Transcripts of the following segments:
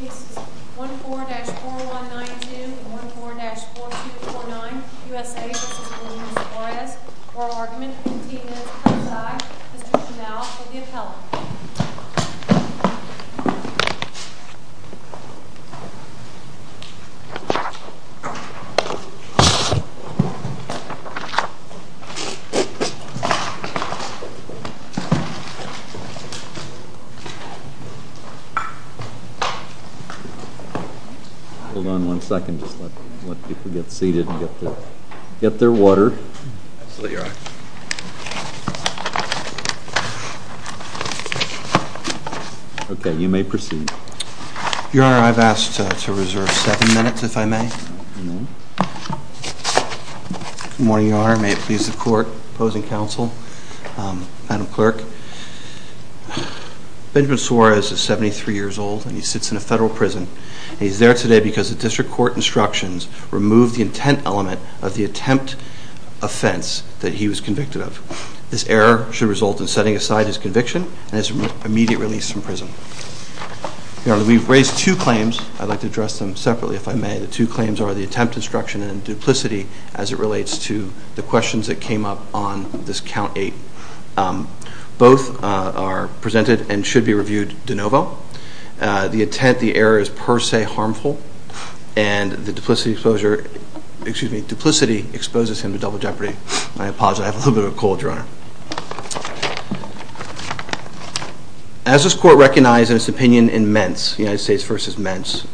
This is 14-4192 and 14-4249 U.S.A. v. Benjamin Suarez. Our argument continues per side. Mr. Chanel will give help. Hold on one second. Just let people get seated and get their water. Absolutely, Your Honor. Okay, you may proceed. Your Honor, I've asked to reserve seven minutes, if I may. Good morning, Your Honor. May it please the Court, opposing counsel, Madam Clerk. Benjamin Suarez is 73 years old and he sits in a federal prison. He's there today because the district court instructions removed the intent element of the attempt offense that he was convicted of. This error should result in setting aside his conviction and his immediate release from prison. Your Honor, we've raised two claims. I'd like to address them separately, if I may. The two claims are the attempt instruction and duplicity as it relates to the questions that came up on this count eight. Both are presented and should be reviewed de novo. The intent, the error, is per se harmful and the duplicity exposes him to double jeopardy. I apologize. I have a little bit of a cold, Your Honor. As this court recognized in its opinion in Ments, United States v. Ments,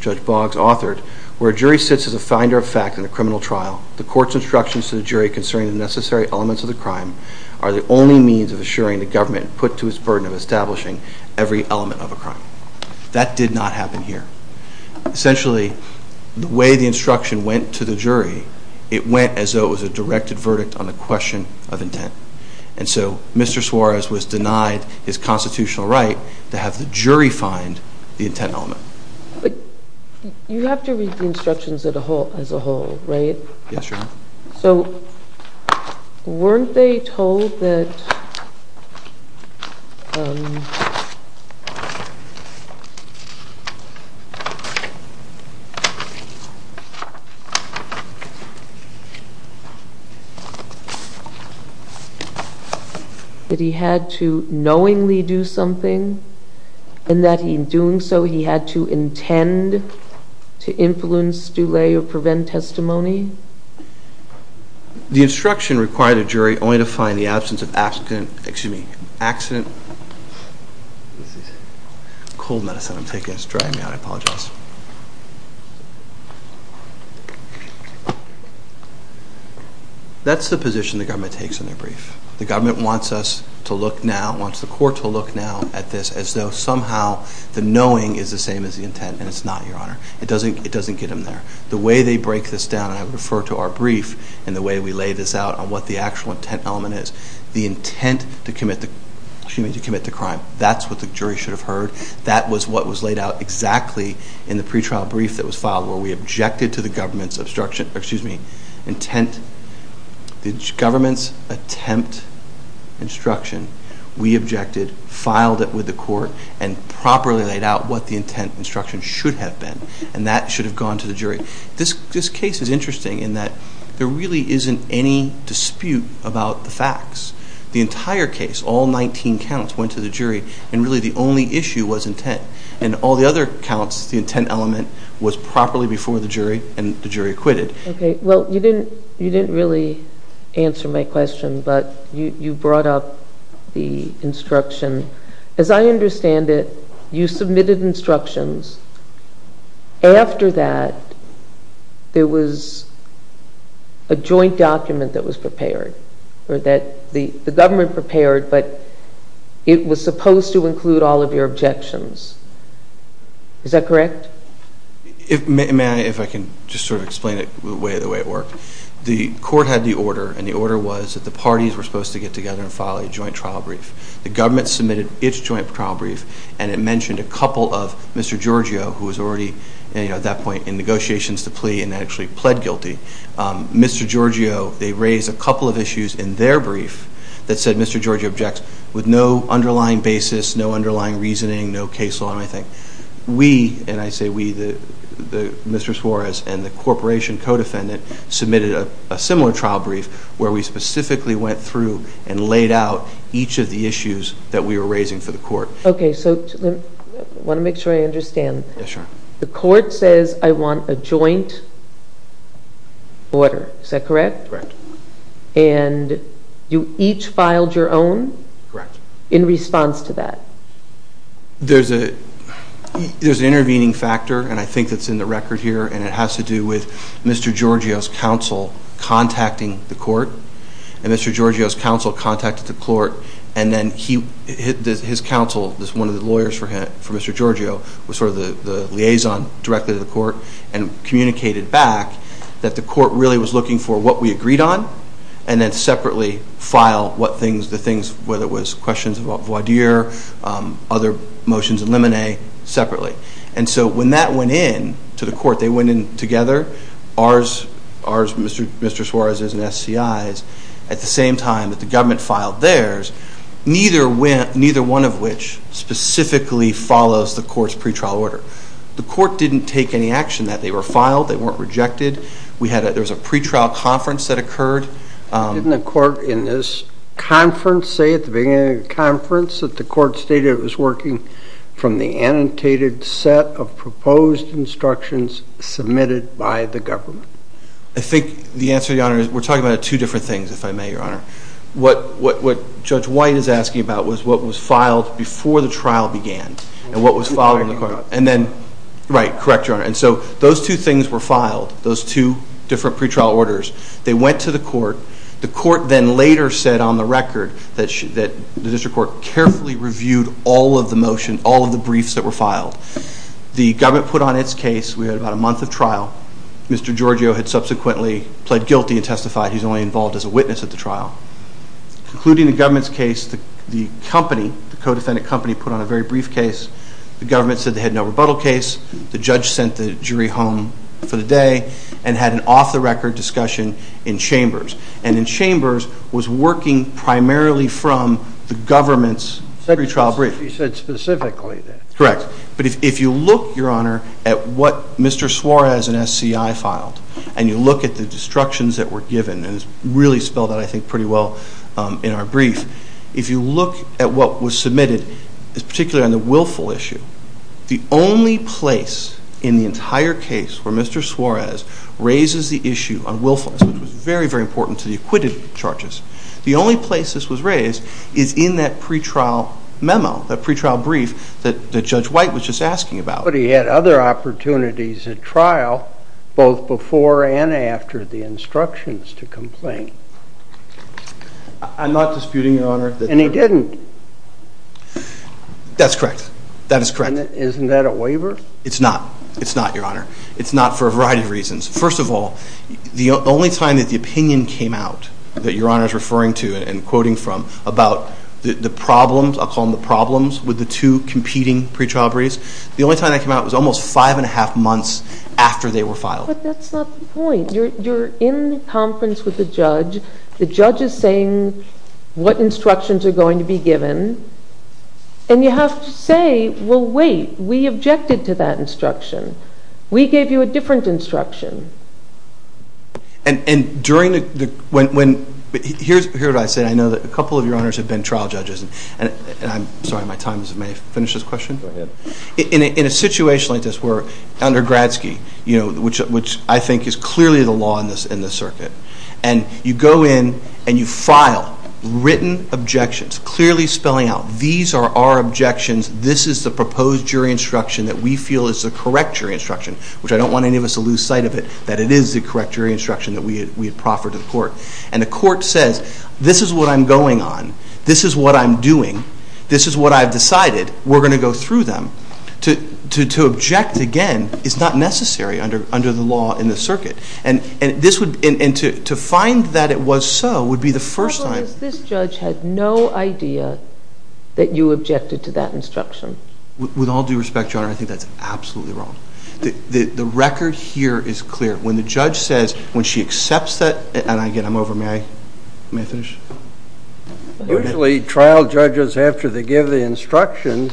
Judge Boggs authored, where a jury sits as a finder of fact in a criminal trial, the court's instructions to the jury concerning the necessary elements of the crime are the only means of assuring the government put to its burden of establishing every element of a crime. That did not happen here. Essentially, the way the instruction went to the jury, it went as though it was a directed verdict on the question of intent. And so Mr. Suarez was denied his constitutional right to have the jury find the intent element. But you have to read the instructions as a whole, right? Yes, Your Honor. So weren't they told that he had to knowingly do something and that in doing so he had to intend to influence, delay, or prevent testimony? The instruction required a jury only to find the absence of accident, excuse me, accident. This is cold medicine I'm taking. It's drying me out. I apologize. That's the position the government takes in their brief. The government wants us to look now, wants the court to look now at this as though somehow the knowing is the same as the intent, and it's not, Your Honor. It doesn't get them there. The way they break this down, and I refer to our brief in the way we lay this out on what the actual intent element is, the intent to commit the crime, that's what the jury should have heard. That was what was laid out exactly in the pretrial brief that was filed where we objected to the government's attempt instruction. We objected, filed it with the court, and properly laid out what the intent instruction should have been, and that should have gone to the jury. This case is interesting in that there really isn't any dispute about the facts. The entire case, all 19 counts, went to the jury, and really the only issue was intent. In all the other counts, the intent element was properly before the jury, and the jury acquitted. Okay. Well, you didn't really answer my question, but you brought up the instruction. As I understand it, you submitted instructions. After that, there was a joint document that was prepared, or that the government prepared, but it was supposed to include all of your objections. Is that correct? If I can just sort of explain it the way it worked, the court had the order, and the order was that the parties were supposed to get together and file a joint trial brief. The government submitted its joint trial brief, and it mentioned a couple of Mr. Giorgio, who was already at that point in negotiations to plea and actually pled guilty. Mr. Giorgio, they raised a couple of issues in their brief that said Mr. Giorgio objects with no underlying basis, no underlying reasoning, no case law, and I think we, and I say we, Mr. Suarez and the corporation co-defendant submitted a similar trial brief where we specifically went through and laid out each of the issues that we were raising for the court. Okay, so I want to make sure I understand. Yes, sure. The court says I want a joint order. Is that correct? Correct. And you each filed your own? Correct. In response to that? There's an intervening factor, and I think that's in the record here, and it has to do with Mr. Giorgio's counsel contacting the court, and Mr. Giorgio's counsel contacted the court, and then his counsel, one of the lawyers for Mr. Giorgio was sort of the liaison directly to the court and communicated back that the court really was looking for what we agreed on and then separately filed the things, whether it was questions about voir dire, other motions in limine, separately. And so when that went in to the court, they went in together, ours, Mr. Suarez's, and SCI's, at the same time that the government filed theirs, neither one of which specifically follows the court's pretrial order. The court didn't take any action that they were filed. They weren't rejected. There was a pretrial conference that occurred. Didn't the court in this conference say at the beginning of the conference that the court stated it was working from the annotated set of proposed instructions submitted by the government? I think the answer, Your Honor, is we're talking about two different things, if I may, Your Honor. What Judge White is asking about was what was filed before the trial began and what was filed in the court. And then, right, correct, Your Honor. And so those two things were filed, those two different pretrial orders. They went to the court. The court then later said on the record that the district court carefully reviewed all of the motion, all of the briefs that were filed. The government put on its case. We had about a month of trial. Mr. Giorgio had subsequently pled guilty and testified. He's only involved as a witness at the trial. Concluding the government's case, the company, the co-defendant company, put on a very brief case. The government said they had no rebuttal case. The judge sent the jury home for the day and had an off-the-record discussion in chambers. And in chambers was working primarily from the government's pretrial brief. He said specifically that. Correct. But if you look, Your Honor, at what Mr. Suarez and SCI filed and you look at the destructions that were given, and it's really spelled out, I think, pretty well in our brief, if you look at what was submitted, particularly on the willful issue, the only place in the entire case where Mr. Suarez raises the issue on willfulness, which was very, very important to the acquitted charges, the only place this was raised is in that pretrial memo, that pretrial brief that Judge White was just asking about. Nobody had other opportunities at trial, both before and after the instructions to complain. I'm not disputing, Your Honor. And he didn't. That's correct. That is correct. Isn't that a waiver? It's not. It's not, Your Honor. It's not for a variety of reasons. First of all, the only time that the opinion came out that Your Honor is referring to and quoting from about the problems, I'll call them the problems, with the two competing pretrial briefs, the only time that came out was almost five and a half months after they were filed. But that's not the point. You're in conference with the judge. The judge is saying what instructions are going to be given. And you have to say, well, wait, we objected to that instruction. We gave you a different instruction. And during the – here's what I say. I know that a couple of Your Honors have been trial judges. And I'm sorry, my time is – may I finish this question? Go ahead. In a situation like this where under Gradsky, which I think is clearly the law in this circuit, and you go in and you file written objections, clearly spelling out, these are our objections, this is the proposed jury instruction that we feel is the correct jury instruction, which I don't want any of us to lose sight of it, that it is the correct jury instruction that we had proffered to the court. And the court says, this is what I'm going on, this is what I'm doing, this is what I've decided, we're going to go through them. To object again is not necessary under the law in this circuit. And to find that it was so would be the first time – The problem is this judge had no idea that you objected to that instruction. With all due respect, Your Honor, I think that's absolutely wrong. The record here is clear. When the judge says – when she accepts that – and again, I'm over. May I finish? Usually trial judges, after they give the instruction,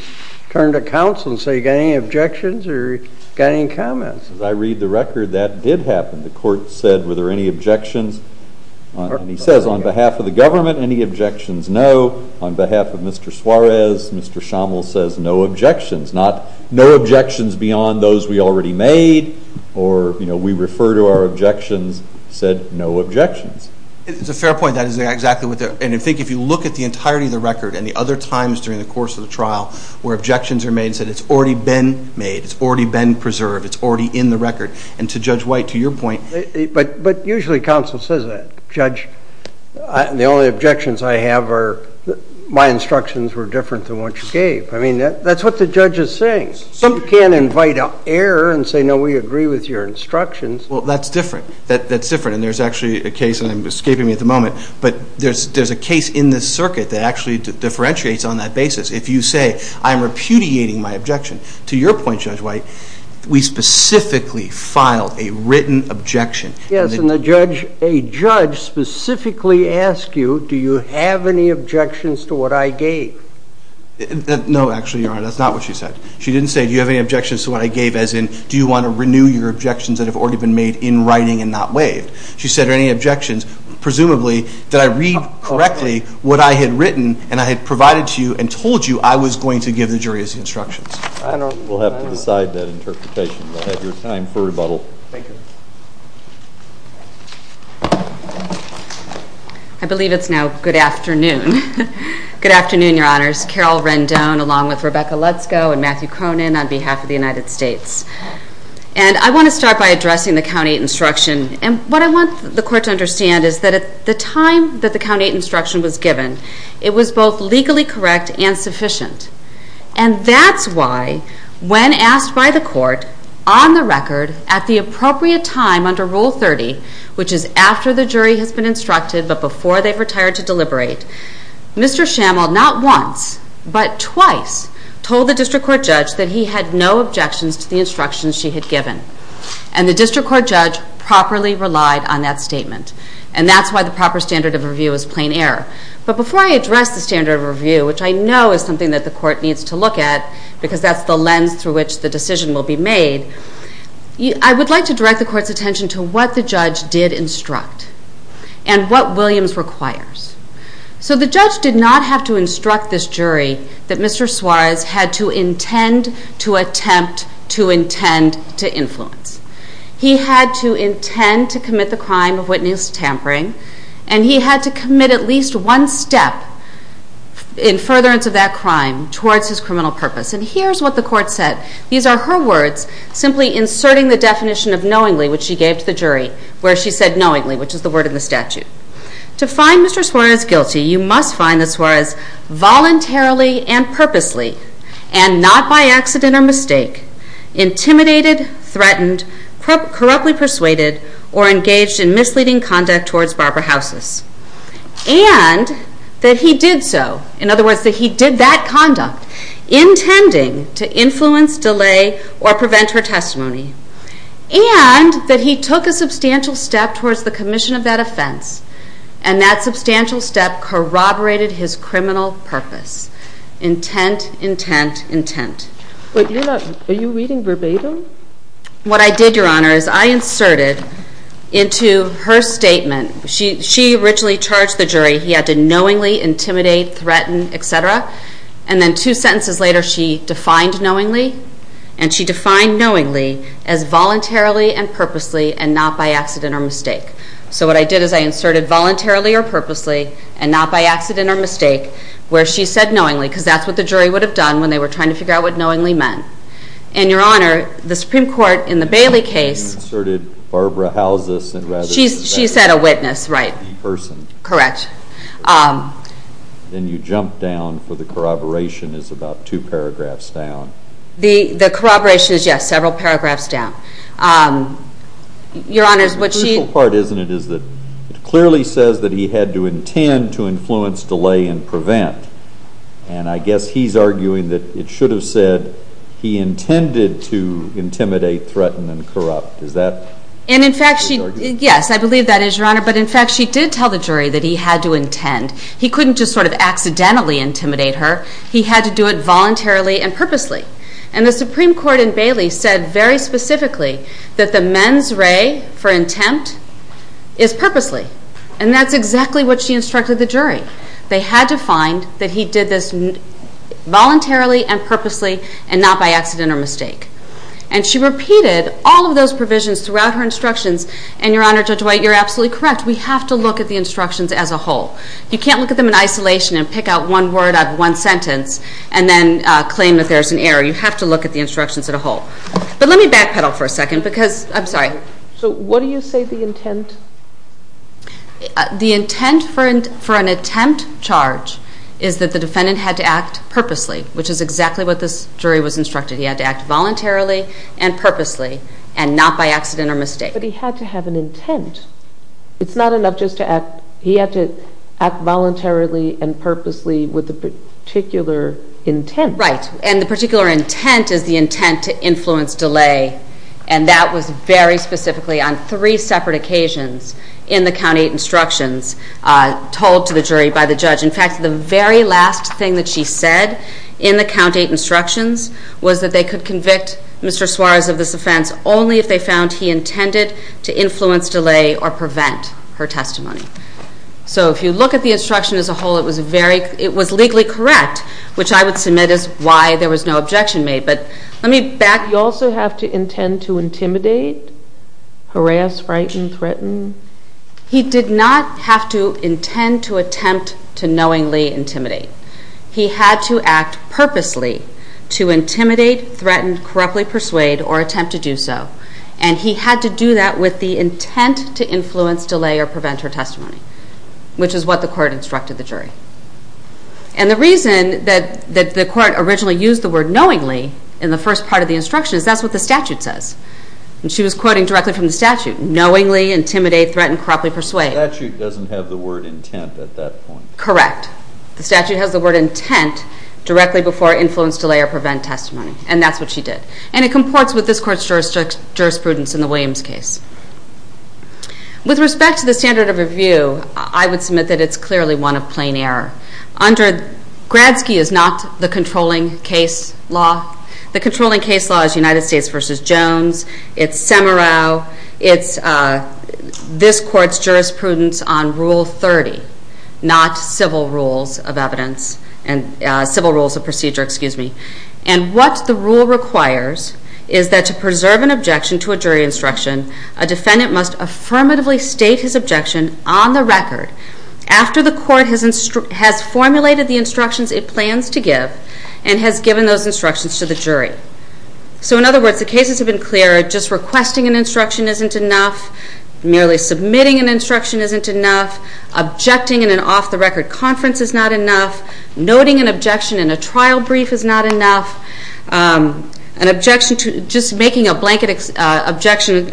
turn to counsel and say, got any objections or got any comments? As I read the record, that did happen. The court said, were there any objections? And he says, on behalf of the government, any objections? No. On behalf of Mr. Suarez, Mr. Schaml says, no objections. Not, no objections beyond those we already made, or, you know, we refer to our objections, said, no objections. It's a fair point. That is exactly what the – and I think if you look at the entirety of the record and the other times during the course of the trial where objections are made and said it's already been made, it's already been preserved, it's already in the record, and to Judge White, to your point – But usually counsel says that. Judge, the only objections I have are, my instructions were different than what you gave. I mean, that's what the judge is saying. Some can invite error and say, no, we agree with your instructions. Well, that's different. That's different. And there's actually a case, and I'm escaping me at the moment, but there's a case in this circuit that actually differentiates on that basis. If you say, I'm repudiating my objection, to your point, Judge White, we specifically filed a written objection. Yes, and the judge – a judge specifically asked you, do you have any objections to what I gave? No, actually, Your Honor, that's not what she said. She didn't say, do you have any objections to what I gave, as in, do you want to renew your objections that have already been made in writing and not waived? She said, are there any objections? Presumably, did I read correctly what I had written and I had provided to you and told you I was going to give the jury instructions? I don't know. We'll have to decide that interpretation. We'll have your time for rebuttal. Thank you. I believe it's now good afternoon. Good afternoon, Your Honors. Carol Rendon, along with Rebecca Lutzko and Matthew Cronin, on behalf of the United States. And I want to start by addressing the County Instruction. And what I want the Court to understand is that at the time that the County Instruction was given, it was both legally correct and sufficient. And that's why, when asked by the Court, on the record, at the appropriate time under Rule 30, which is after the jury has been instructed but before they've retired to deliberate, Mr. Schamald not once but twice told the District Court judge that he had no objections to the instructions she had given. And the District Court judge properly relied on that statement. And that's why the proper standard of review is plain error. But before I address the standard of review, which I know is something that the Court needs to look at because that's the lens through which the decision will be made, I would like to direct the Court's attention to what the judge did instruct and what Williams requires. So the judge did not have to instruct this jury that Mr. Suarez had to intend to attempt to intend to influence. He had to intend to commit the crime of witness tampering, and he had to commit at least one step in furtherance of that crime towards his criminal purpose. And here's what the Court said. These are her words, simply inserting the definition of knowingly, which she gave to the jury, where she said knowingly, which is the word in the statute. To find Mr. Suarez guilty, you must find that Suarez voluntarily and purposely, and not by accident or mistake, intimidated, threatened, corruptly persuaded, or engaged in misleading conduct towards Barbara Houses. And that he did so, in other words, that he did that conduct, intending to influence, delay, or prevent her testimony. And that substantial step corroborated his criminal purpose. Intent, intent, intent. But you're not – are you reading verbatim? What I did, Your Honor, is I inserted into her statement – she originally charged the jury he had to knowingly intimidate, threaten, et cetera, and then two sentences later she defined knowingly, and she defined knowingly as voluntarily and purposely and not by accident or mistake. So what I did is I inserted voluntarily or purposely and not by accident or mistake, where she said knowingly, because that's what the jury would have done when they were trying to figure out what knowingly meant. And, Your Honor, the Supreme Court in the Bailey case – You inserted Barbara Houses and rather than – She said a witness, right. A person. Correct. Then you jump down for the corroboration is about two paragraphs down. The corroboration is, yes, several paragraphs down. Your Honor, what she – What she says in it is that – it clearly says that he had to intend to influence, delay, and prevent. And I guess he's arguing that it should have said he intended to intimidate, threaten, and corrupt. Is that what she's arguing? And, in fact, she – Yes, I believe that is, Your Honor. But, in fact, she did tell the jury that he had to intend. He couldn't just sort of accidentally intimidate her. He had to do it voluntarily and purposely. And the Supreme Court in Bailey said very specifically that the mens re for intent is purposely. And that's exactly what she instructed the jury. They had to find that he did this voluntarily and purposely and not by accident or mistake. And she repeated all of those provisions throughout her instructions. And, Your Honor, Judge White, you're absolutely correct. We have to look at the instructions as a whole. You can't look at them in isolation and pick out one word out of one sentence and then claim that there's an error. You have to look at the instructions as a whole. But let me backpedal for a second because – I'm sorry. So what do you say the intent? The intent for an attempt charge is that the defendant had to act purposely, which is exactly what this jury was instructed. He had to act voluntarily and purposely and not by accident or mistake. But he had to have an intent. It's not enough just to act. He had to act voluntarily and purposely with a particular intent. Right. And the particular intent is the intent to influence delay, and that was very specifically on three separate occasions in the Count 8 instructions told to the jury by the judge. In fact, the very last thing that she said in the Count 8 instructions was that they could convict Mr. Suarez of this offense only if they found he intended to influence delay or prevent her testimony. So if you look at the instruction as a whole, it was legally correct, which I would submit is why there was no objection made. But let me back. You also have to intend to intimidate, harass, frighten, threaten? He did not have to intend to attempt to knowingly intimidate. He had to act purposely to intimidate, threaten, corruptly persuade, or attempt to do so. And he had to do that with the intent to influence, delay, or prevent her testimony, which is what the court instructed the jury. And the reason that the court originally used the word knowingly in the first part of the instruction is that's what the statute says. And she was quoting directly from the statute, knowingly intimidate, threaten, corruptly persuade. The statute doesn't have the word intent at that point. Correct. The statute has the word intent directly before influence, delay, or prevent testimony, and that's what she did. And it comports with this court's jurisprudence in the Williams case. With respect to the standard of review, I would submit that it's clearly one of plain error. Gradsky is not the controlling case law. The controlling case law is United States v. Jones. It's Semerow. It's this court's jurisprudence on Rule 30, not civil rules of procedure. And what the rule requires is that to preserve an objection to a jury instruction, a defendant must affirmatively state his objection on the record after the court has formulated the instructions it plans to give and has given those instructions to the jury. So in other words, the cases have been clear. Just requesting an instruction isn't enough. Merely submitting an instruction isn't enough. Objecting in an off-the-record conference is not enough. Noting an objection in a trial brief is not enough. Just making an objection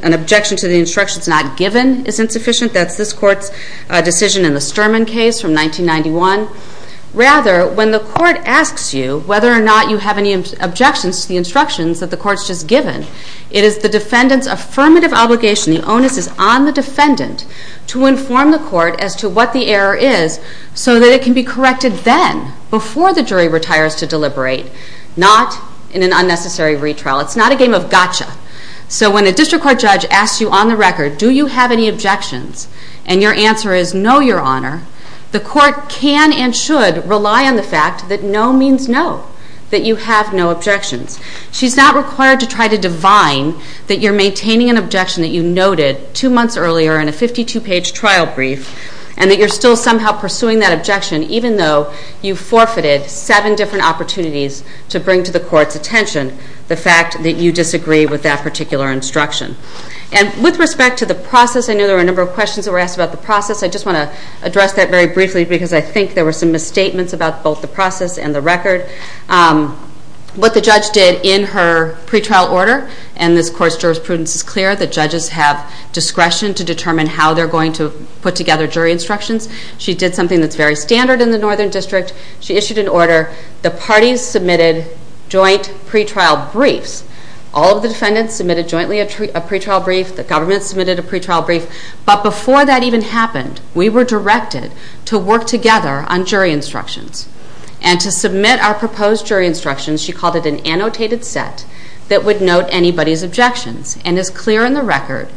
to the instructions not given is insufficient. That's this court's decision in the Sturman case from 1991. Rather, when the court asks you whether or not you have any objections to the instructions that the court's just given, it is the defendant's affirmative obligation, the onus is on the defendant, to inform the court as to what the error is so that it can be corrected then, before the jury retires to deliberate, not in an unnecessary retrial. It's not a game of gotcha. So when a district court judge asks you on the record, do you have any objections, and your answer is no, Your Honor, the court can and should rely on the fact that no means no, that you have no objections. She's not required to try to divine that you're maintaining an objection that you noted two months earlier in a 52-page trial brief and that you're still somehow pursuing that objection even though you forfeited seven different opportunities to bring to the court's attention the fact that you disagree with that particular instruction. And with respect to the process, I know there were a number of questions that were asked about the process. I just want to address that very briefly because I think there were some misstatements about both the process and the record. What the judge did in her pretrial order, and this court's jurisprudence is clear, the judges have discretion to determine how they're going to put together jury instructions. She did something that's very standard in the Northern District. She issued an order. The parties submitted joint pretrial briefs. All of the defendants submitted jointly a pretrial brief. The government submitted a pretrial brief. But before that even happened, we were directed to work together on jury instructions. And to submit our proposed jury instructions, she called it an annotated set that would note anybody's objections. And as clear in the record,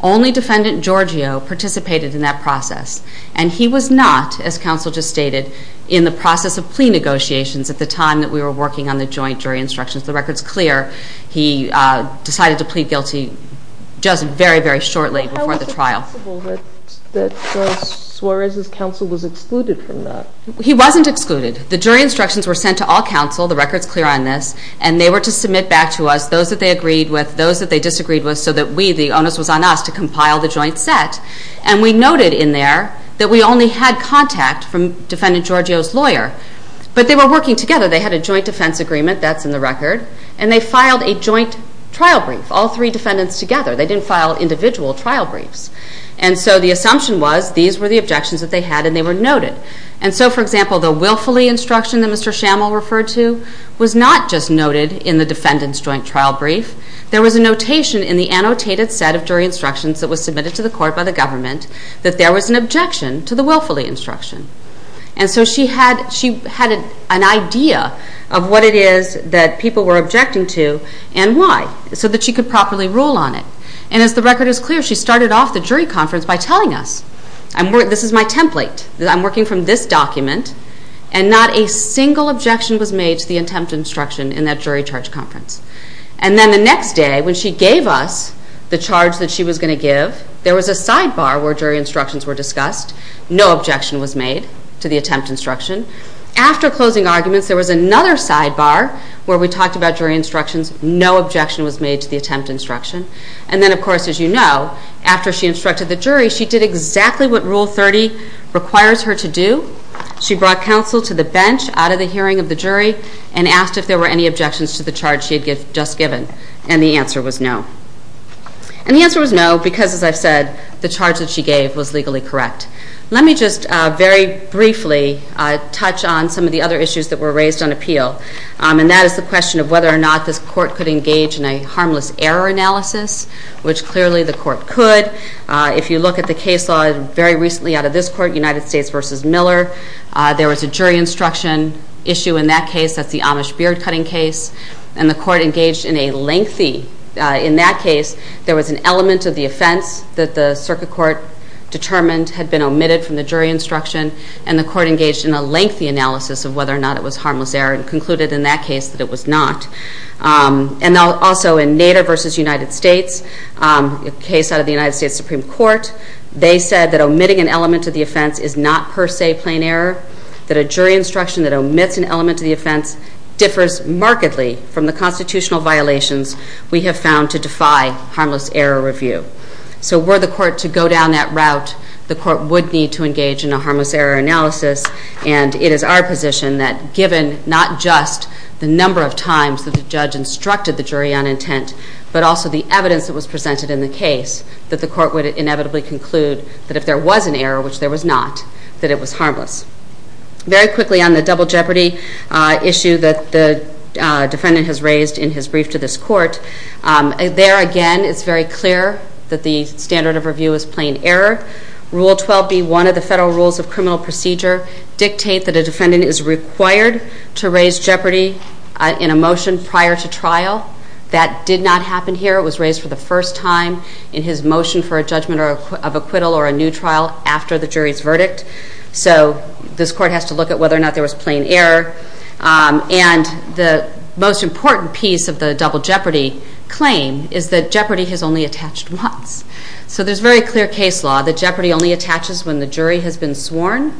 only Defendant Giorgio participated in that process. And he was not, as counsel just stated, in the process of plea negotiations at the time that we were working on the joint jury instructions. The record's clear. He decided to plead guilty just very, very shortly before the trial. How is it possible that Judge Suarez's counsel was excluded from that? He wasn't excluded. The jury instructions were sent to all counsel. The record's clear on this. And they were to submit back to us those that they agreed with, those that they disagreed with, so that we, the onus was on us, to compile the joint set. And we noted in there that we only had contact from Defendant Giorgio's lawyer. But they were working together. They had a joint defense agreement. That's in the record. And they filed a joint trial brief, all three defendants together. They didn't file individual trial briefs. And so the assumption was these were the objections that they had, and they were noted. And so, for example, the willfully instruction that Mr. Schammel referred to was not just noted in the defendant's joint trial brief. There was a notation in the annotated set of jury instructions that was submitted to the court by the government that there was an objection to the willfully instruction. And so she had an idea of what it is that people were objecting to and why, so that she could properly rule on it. And as the record is clear, she started off the jury conference by telling us, this is my template, I'm working from this document, and not a single objection was made to the attempt to instruction in that jury charge conference. And then the next day, when she gave us the charge that she was going to give, there was a sidebar where jury instructions were discussed. No objection was made to the attempt to instruction. After closing arguments, there was another sidebar where we talked about jury instructions. No objection was made to the attempt to instruction. And then, of course, as you know, after she instructed the jury, she did exactly what Rule 30 requires her to do. She brought counsel to the bench out of the hearing of the jury and asked if there were any objections to the charge she had just given. And the answer was no. And the answer was no because, as I've said, the charge that she gave was legally correct. Let me just very briefly touch on some of the other issues that were raised on appeal, and that is the question of whether or not this court could engage in a harmless error analysis, which clearly the court could. If you look at the case law very recently out of this court, United States v. Miller, there was a jury instruction issue in that case. That's the Amish beard-cutting case. And the court engaged in a lengthy, in that case, there was an element of the offense that the circuit court determined had been omitted from the jury instruction, and the court engaged in a lengthy analysis of whether or not it was harmless error and concluded in that case that it was not. And also in Nader v. United States, a case out of the United States Supreme Court, they said that omitting an element of the offense is not per se plain error, that a jury instruction that omits an element of the offense differs markedly from the constitutional violations we have found to defy harmless error review. So were the court to go down that route, the court would need to engage in a harmless error analysis, and it is our position that given not just the number of times that the judge instructed the jury on intent, but also the evidence that was presented in the case, that the court would inevitably conclude that if there was an error, which there was not, that it was harmless. Very quickly on the double jeopardy issue that the defendant has raised in his brief to this court, there again it's very clear that the standard of review is plain error. Rule 12B, one of the federal rules of criminal procedure, dictate that a defendant is required to raise jeopardy in a motion prior to trial that did not happen here. It was raised for the first time in his motion for a judgment of acquittal or a new trial after the jury's verdict. So this court has to look at whether or not there was plain error. And the most important piece of the double jeopardy claim is that jeopardy has only attached once. So there's very clear case law that jeopardy only attaches when the jury has been sworn.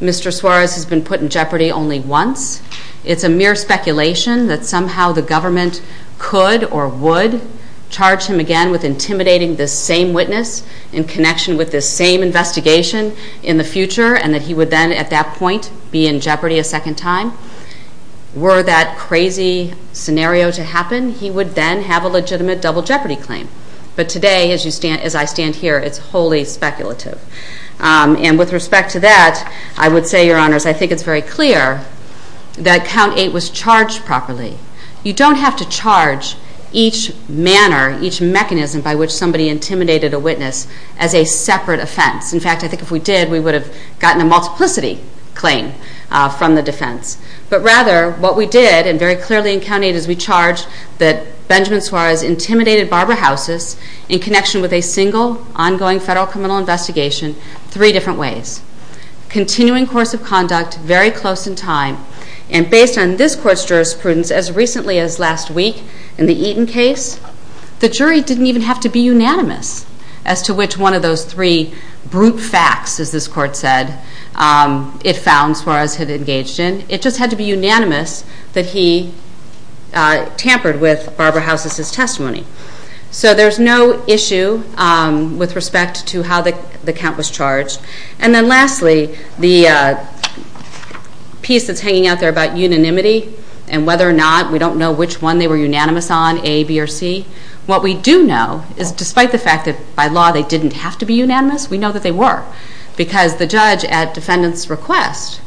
Mr. Suarez has been put in jeopardy only once. It's a mere speculation that somehow the government could or would charge him again with intimidating the same witness in connection with the same investigation in the future and that he would then at that point be in jeopardy a second time. Were that crazy scenario to happen, he would then have a legitimate double jeopardy claim. But today, as I stand here, it's wholly speculative. And with respect to that, I would say, Your Honors, I think it's very clear that Count 8 was charged properly. You don't have to charge each manner, each mechanism by which somebody intimidated a witness as a separate offense. In fact, I think if we did, we would have gotten a multiplicity claim from the defense. But rather, what we did, and very clearly in Count 8, is we charged that Benjamin Suarez intimidated Barbara Housis in connection with a single ongoing federal criminal investigation three different ways. Continuing course of conduct, very close in time, and based on this court's jurisprudence, as recently as last week in the Eaton case, the jury didn't even have to be unanimous as to which one of those three brute facts, as this court said, it found Suarez had engaged in. It just had to be unanimous that he tampered with Barbara Housis' testimony. So there's no issue with respect to how the count was charged. And then lastly, the piece that's hanging out there about unanimity and whether or not, we don't know which one they were unanimous on, A, B, or C. What we do know is despite the fact that by law they didn't have to be unanimous, we know that they were. Because the judge, at defendant's request,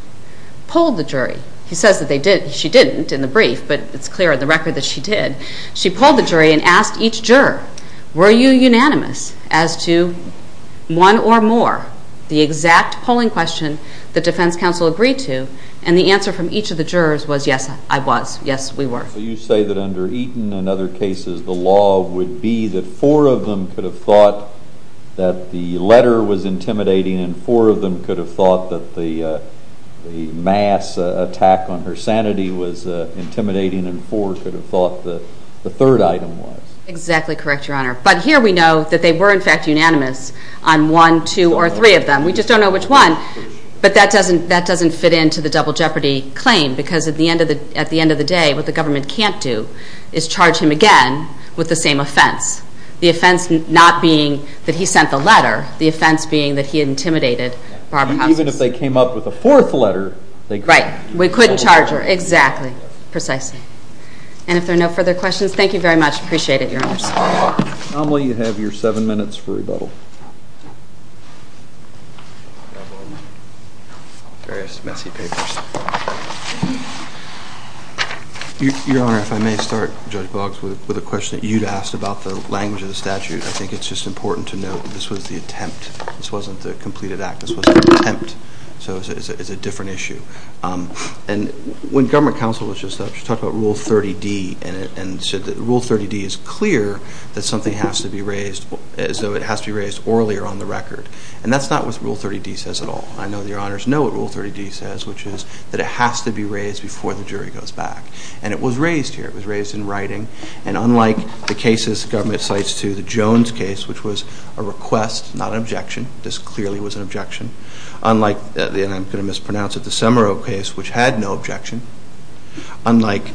pulled the jury. He says that she didn't in the brief, but it's clear in the record that she did. She pulled the jury and asked each juror, were you unanimous as to one or more, the exact polling question that defense counsel agreed to? And the answer from each of the jurors was, yes, I was. Yes, we were. So you say that under Eaton and other cases, the law would be that four of them could have thought that the letter was intimidating and four of them could have thought that the mass attack on her sanity was intimidating and four could have thought that the third item was. Exactly correct, Your Honor. But here we know that they were, in fact, unanimous on one, two, or three of them. We just don't know which one. But that doesn't fit into the double jeopardy claim because at the end of the day, what the government can't do is charge him again with the same offense. The offense not being that he sent the letter. The offense being that he intimidated Barbara Constance. Even if they came up with a fourth letter. Right. We couldn't charge her. Exactly. Precisely. And if there are no further questions, thank you very much. I appreciate it, Your Honor. Anomaly, you have your seven minutes for rebuttal. I have various messy papers. Your Honor, if I may start, Judge Boggs, with a question that you'd asked about the language of the statute. I think it's just important to note that this was the attempt. This wasn't the completed act. This was an attempt. So it's a different issue. And when government counsel was just up, she talked about Rule 30D and said that Rule 30D is clear that something has to be raised as though it has to be raised orally or on the record. And that's not what Rule 30D says at all. I know that Your Honors know what Rule 30D says, which is that it has to be raised before the jury goes back. And it was raised here. It was raised in writing. And unlike the cases government cites to the Jones case, which was a request, not an objection. This clearly was an objection. Unlike, and I'm going to mispronounce it, the Semero case, which had no objection. Unlike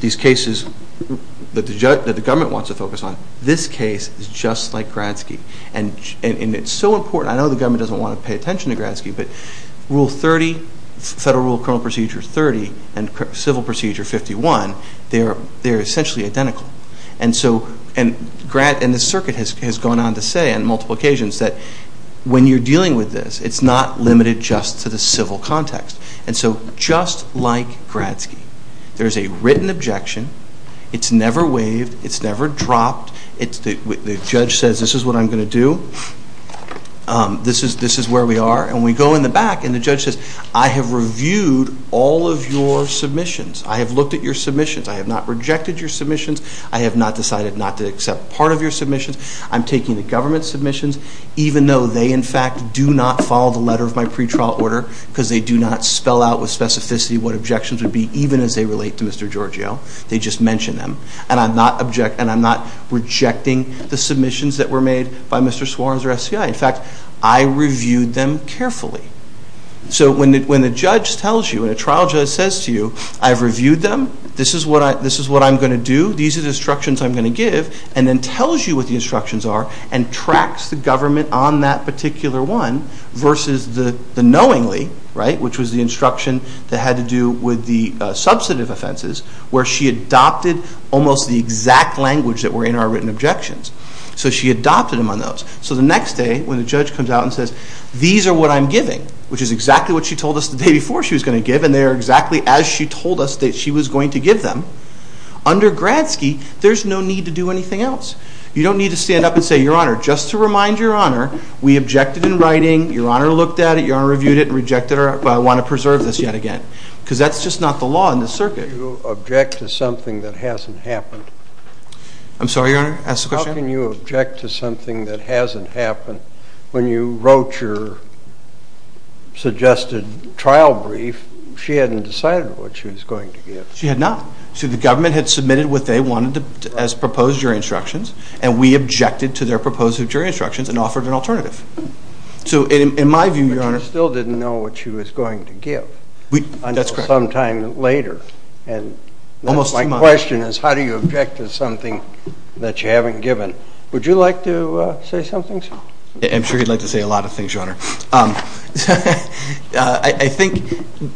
these cases that the government wants to focus on, this case is just like Gradsky. And it's so important. I know the government doesn't want to pay attention to Gradsky, but Rule 30, Federal Rule Criminal Procedure 30, and Civil Procedure 51, they're essentially identical. And the circuit has gone on to say on multiple occasions that when you're dealing with this, it's not limited just to the civil context. And so just like Gradsky, there's a written objection. It's never waived. It's never dropped. The judge says, this is what I'm going to do. This is where we are. And we go in the back, and the judge says, I have reviewed all of your submissions. I have looked at your submissions. I have not rejected your submissions. I have not decided not to accept part of your submissions. I'm taking the government's submissions, even though they, in fact, do not follow the letter of my pretrial order because they do not spell out with specificity what objections would be, even as they relate to Mr. Giorgio. They just mention them. And I'm not rejecting the submissions that were made by Mr. Suarez or SCI. In fact, I reviewed them carefully. So when the judge tells you, when a trial judge says to you, I've reviewed them. This is what I'm going to do. These are the instructions I'm going to give, and then tells you what the instructions are and tracks the government on that particular one versus the knowingly, right, which was the instruction that had to do with the substantive offenses, where she adopted almost the exact language that were in our written objections. So she adopted them on those. So the next day, when the judge comes out and says, these are what I'm giving, which is exactly what she told us the day before she was going to give, and they are exactly as she told us that she was going to give them, under Gradsky, there's no need to do anything else. You don't need to stand up and say, Your Honor, just to remind Your Honor, we objected in writing, Your Honor looked at it, Your Honor reviewed it, and rejected it, but I want to preserve this yet again. Because that's just not the law in this circuit. How can you object to something that hasn't happened? I'm sorry, Your Honor? Ask the question. How can you object to something that hasn't happened? When you wrote your suggested trial brief, she hadn't decided what she was going to give. She had not. So the government had submitted what they wanted as proposed jury instructions, and we objected to their proposed jury instructions and offered an alternative. So in my view, Your Honor. But you still didn't know what she was going to give until sometime later. My question is, how do you object to something that you haven't given? Would you like to say something, sir? I'm sure he'd like to say a lot of things, Your Honor. I think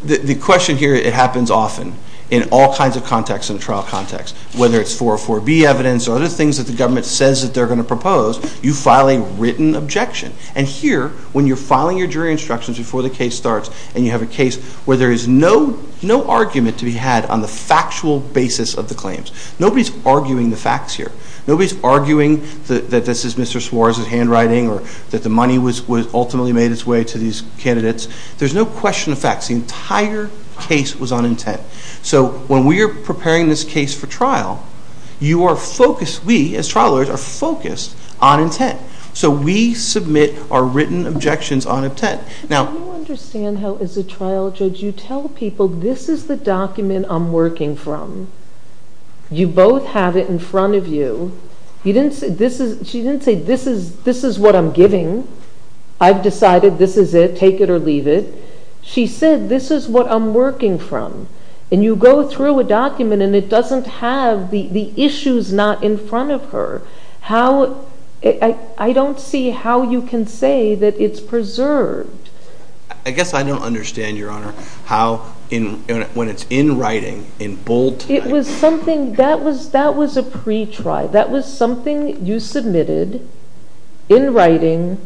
the question here, it happens often in all kinds of contexts in a trial context, whether it's 404B evidence or other things that the government says that they're going to propose, you file a written objection. And here, when you're filing your jury instructions before the case starts, and you have a case where there is no argument to be had on the factual basis of the claims, nobody's arguing the facts here. Nobody's arguing that this is Mr. Suarez's handwriting or that the money ultimately made its way to these candidates. There's no question of facts. The entire case was on intent. So when we are preparing this case for trial, you are focused, we, as trial lawyers, are focused on intent. So we submit our written objections on intent. Now, do you understand how, as a trial judge, you tell people, this is the document I'm working from. You both have it in front of you. She didn't say, this is what I'm giving. I've decided this is it. Take it or leave it. She said, this is what I'm working from. And you go through a document, and it doesn't have the issues not in front of her. I don't see how you can say that it's preserved. I guess I don't understand, Your Honor, how, when it's in writing, in bold type. It was something that was a pre-trial. That was something you submitted in writing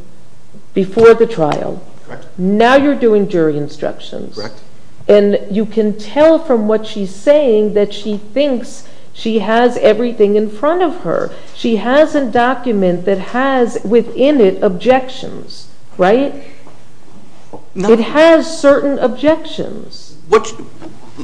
before the trial. Correct. Now you're doing jury instructions. Correct. And you can tell from what she's saying that she thinks she has everything in front of her. She has a document that has within it objections, right? It has certain objections.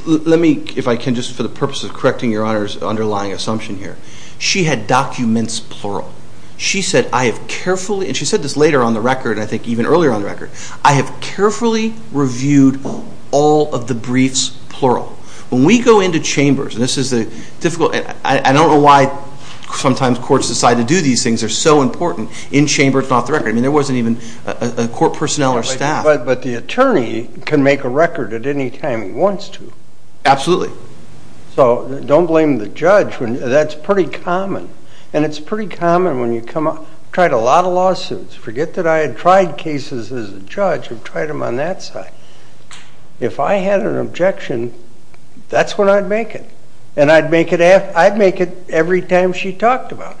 Let me, if I can, just for the purpose of correcting Your Honor's underlying assumption here. She had documents, plural. She said, I have carefully, and she said this later on the record, I think even earlier on the record, I have carefully reviewed all of the briefs, plural. When we go into chambers, and this is a difficult, I don't know why sometimes courts decide to do these things. They're so important in chambers, not the record. I mean, there wasn't even a court personnel or staff. But the attorney can make a record at any time he wants to. Absolutely. So don't blame the judge. That's pretty common. And it's pretty common when you come up. I've tried a lot of lawsuits. Forget that I had tried cases as a judge. I've tried them on that side. If I had an objection, that's when I'd make it. And I'd make it every time she talked about it.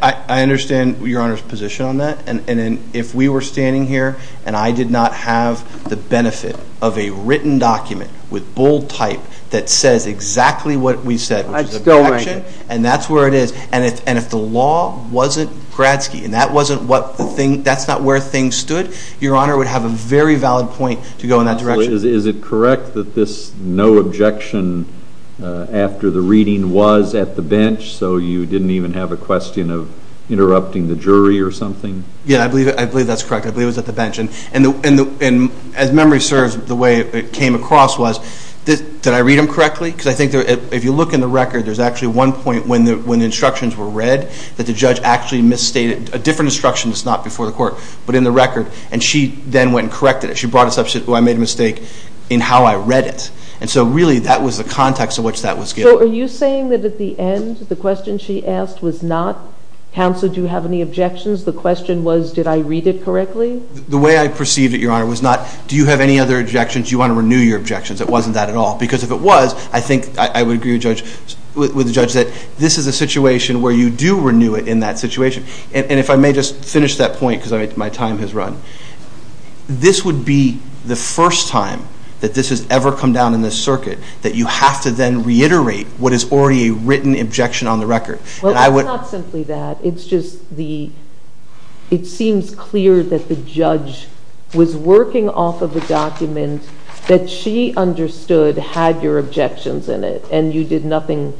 I understand Your Honor's position on that. And if we were standing here and I did not have the benefit of a written document with bold type that says exactly what we said, which is an objection, and that's where it is, and if the law wasn't Gradsky, and that's not where things stood, Your Honor would have a very valid point to go in that direction. Is it correct that this no objection after the reading was at the bench, so you didn't even have a question of interrupting the jury or something? Yeah, I believe that's correct. I believe it was at the bench. And as memory serves, the way it came across was, did I read them correctly? Because I think if you look in the record, there's actually one point when the instructions were read that the judge actually misstated a different instruction. It's not before the court, but in the record. And she then went and corrected it. She brought it up and said, oh, I made a mistake in how I read it. And so really that was the context in which that was given. So are you saying that at the end, the question she asked was not, Counsel, do you have any objections? The question was, did I read it correctly? The way I perceived it, Your Honor, was not, do you have any other objections? Do you want to renew your objections? It wasn't that at all, because if it was, I think I would agree with the judge that this is a situation where you do renew it in that situation. And if I may just finish that point because my time has run, this would be the first time that this has ever come down in this circuit that you have to then reiterate what is already a written objection on the record. Well, it's not simply that. It's just the, it seems clear that the judge was working off of a document that she understood had your objections in it, and you did nothing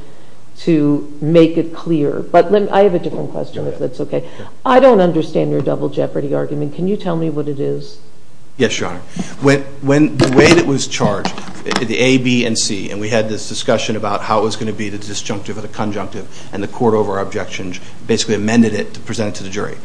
to make it clear. But I have a different question, if that's okay. I don't understand your double jeopardy argument. Can you tell me what it is? Yes, Your Honor. When the way that it was charged, the A, B, and C, and we had this discussion about how it was going to be the disjunctive or the conjunctive, and the court over our objections basically amended it to present it to the jury.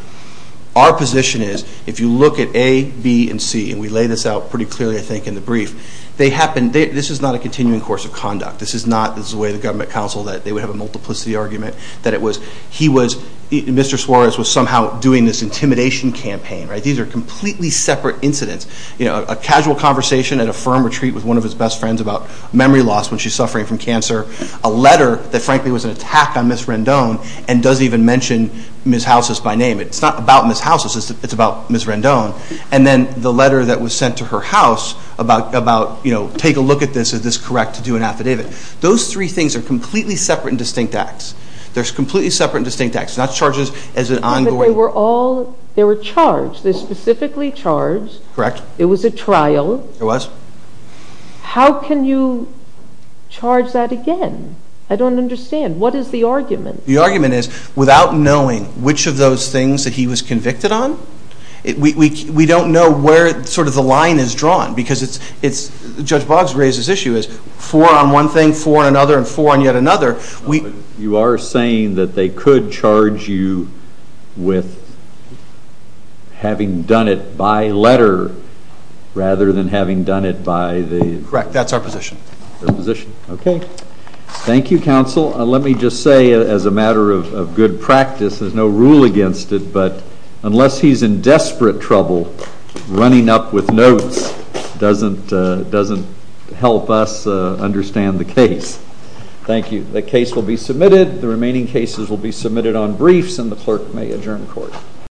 Our position is, if you look at A, B, and C, and we lay this out pretty clearly, I think, in the brief, they happened, this is not a continuing course of conduct. This is not, this is the way the government counsel, that they would have a multiplicity argument, that it was, he was, Mr. Suarez was somehow doing this intimidation campaign, right? These are completely separate incidents. You know, a casual conversation at a firm retreat with one of his best friends about memory loss when she's suffering from cancer, a letter that, frankly, was an attack on Ms. Rendon, and doesn't even mention Ms. Housis by name. It's not about Ms. Housis. It's about Ms. Rendon. And then the letter that was sent to her house about, you know, take a look at this. Is this correct to do an affidavit? Those three things are completely separate and distinct acts. They're completely separate and distinct acts, not charges as an ongoing. But they were all, they were charged. They're specifically charged. Correct. It was a trial. It was. How can you charge that again? I don't understand. What is the argument? The argument is, without knowing which of those things that he was convicted on, we don't know where sort of the line is drawn, because it's, Judge Boggs raised this issue, is four on one thing, four on another, and four on yet another. You are saying that they could charge you with having done it by letter rather than having done it by the. Correct. That's our position. Okay. Thank you, counsel. Let me just say, as a matter of good practice, there's no rule against it, but unless he's in desperate trouble, running up with notes doesn't help us understand the case. Thank you. The case will be submitted. The remaining cases will be submitted on briefs, and the clerk may adjourn court.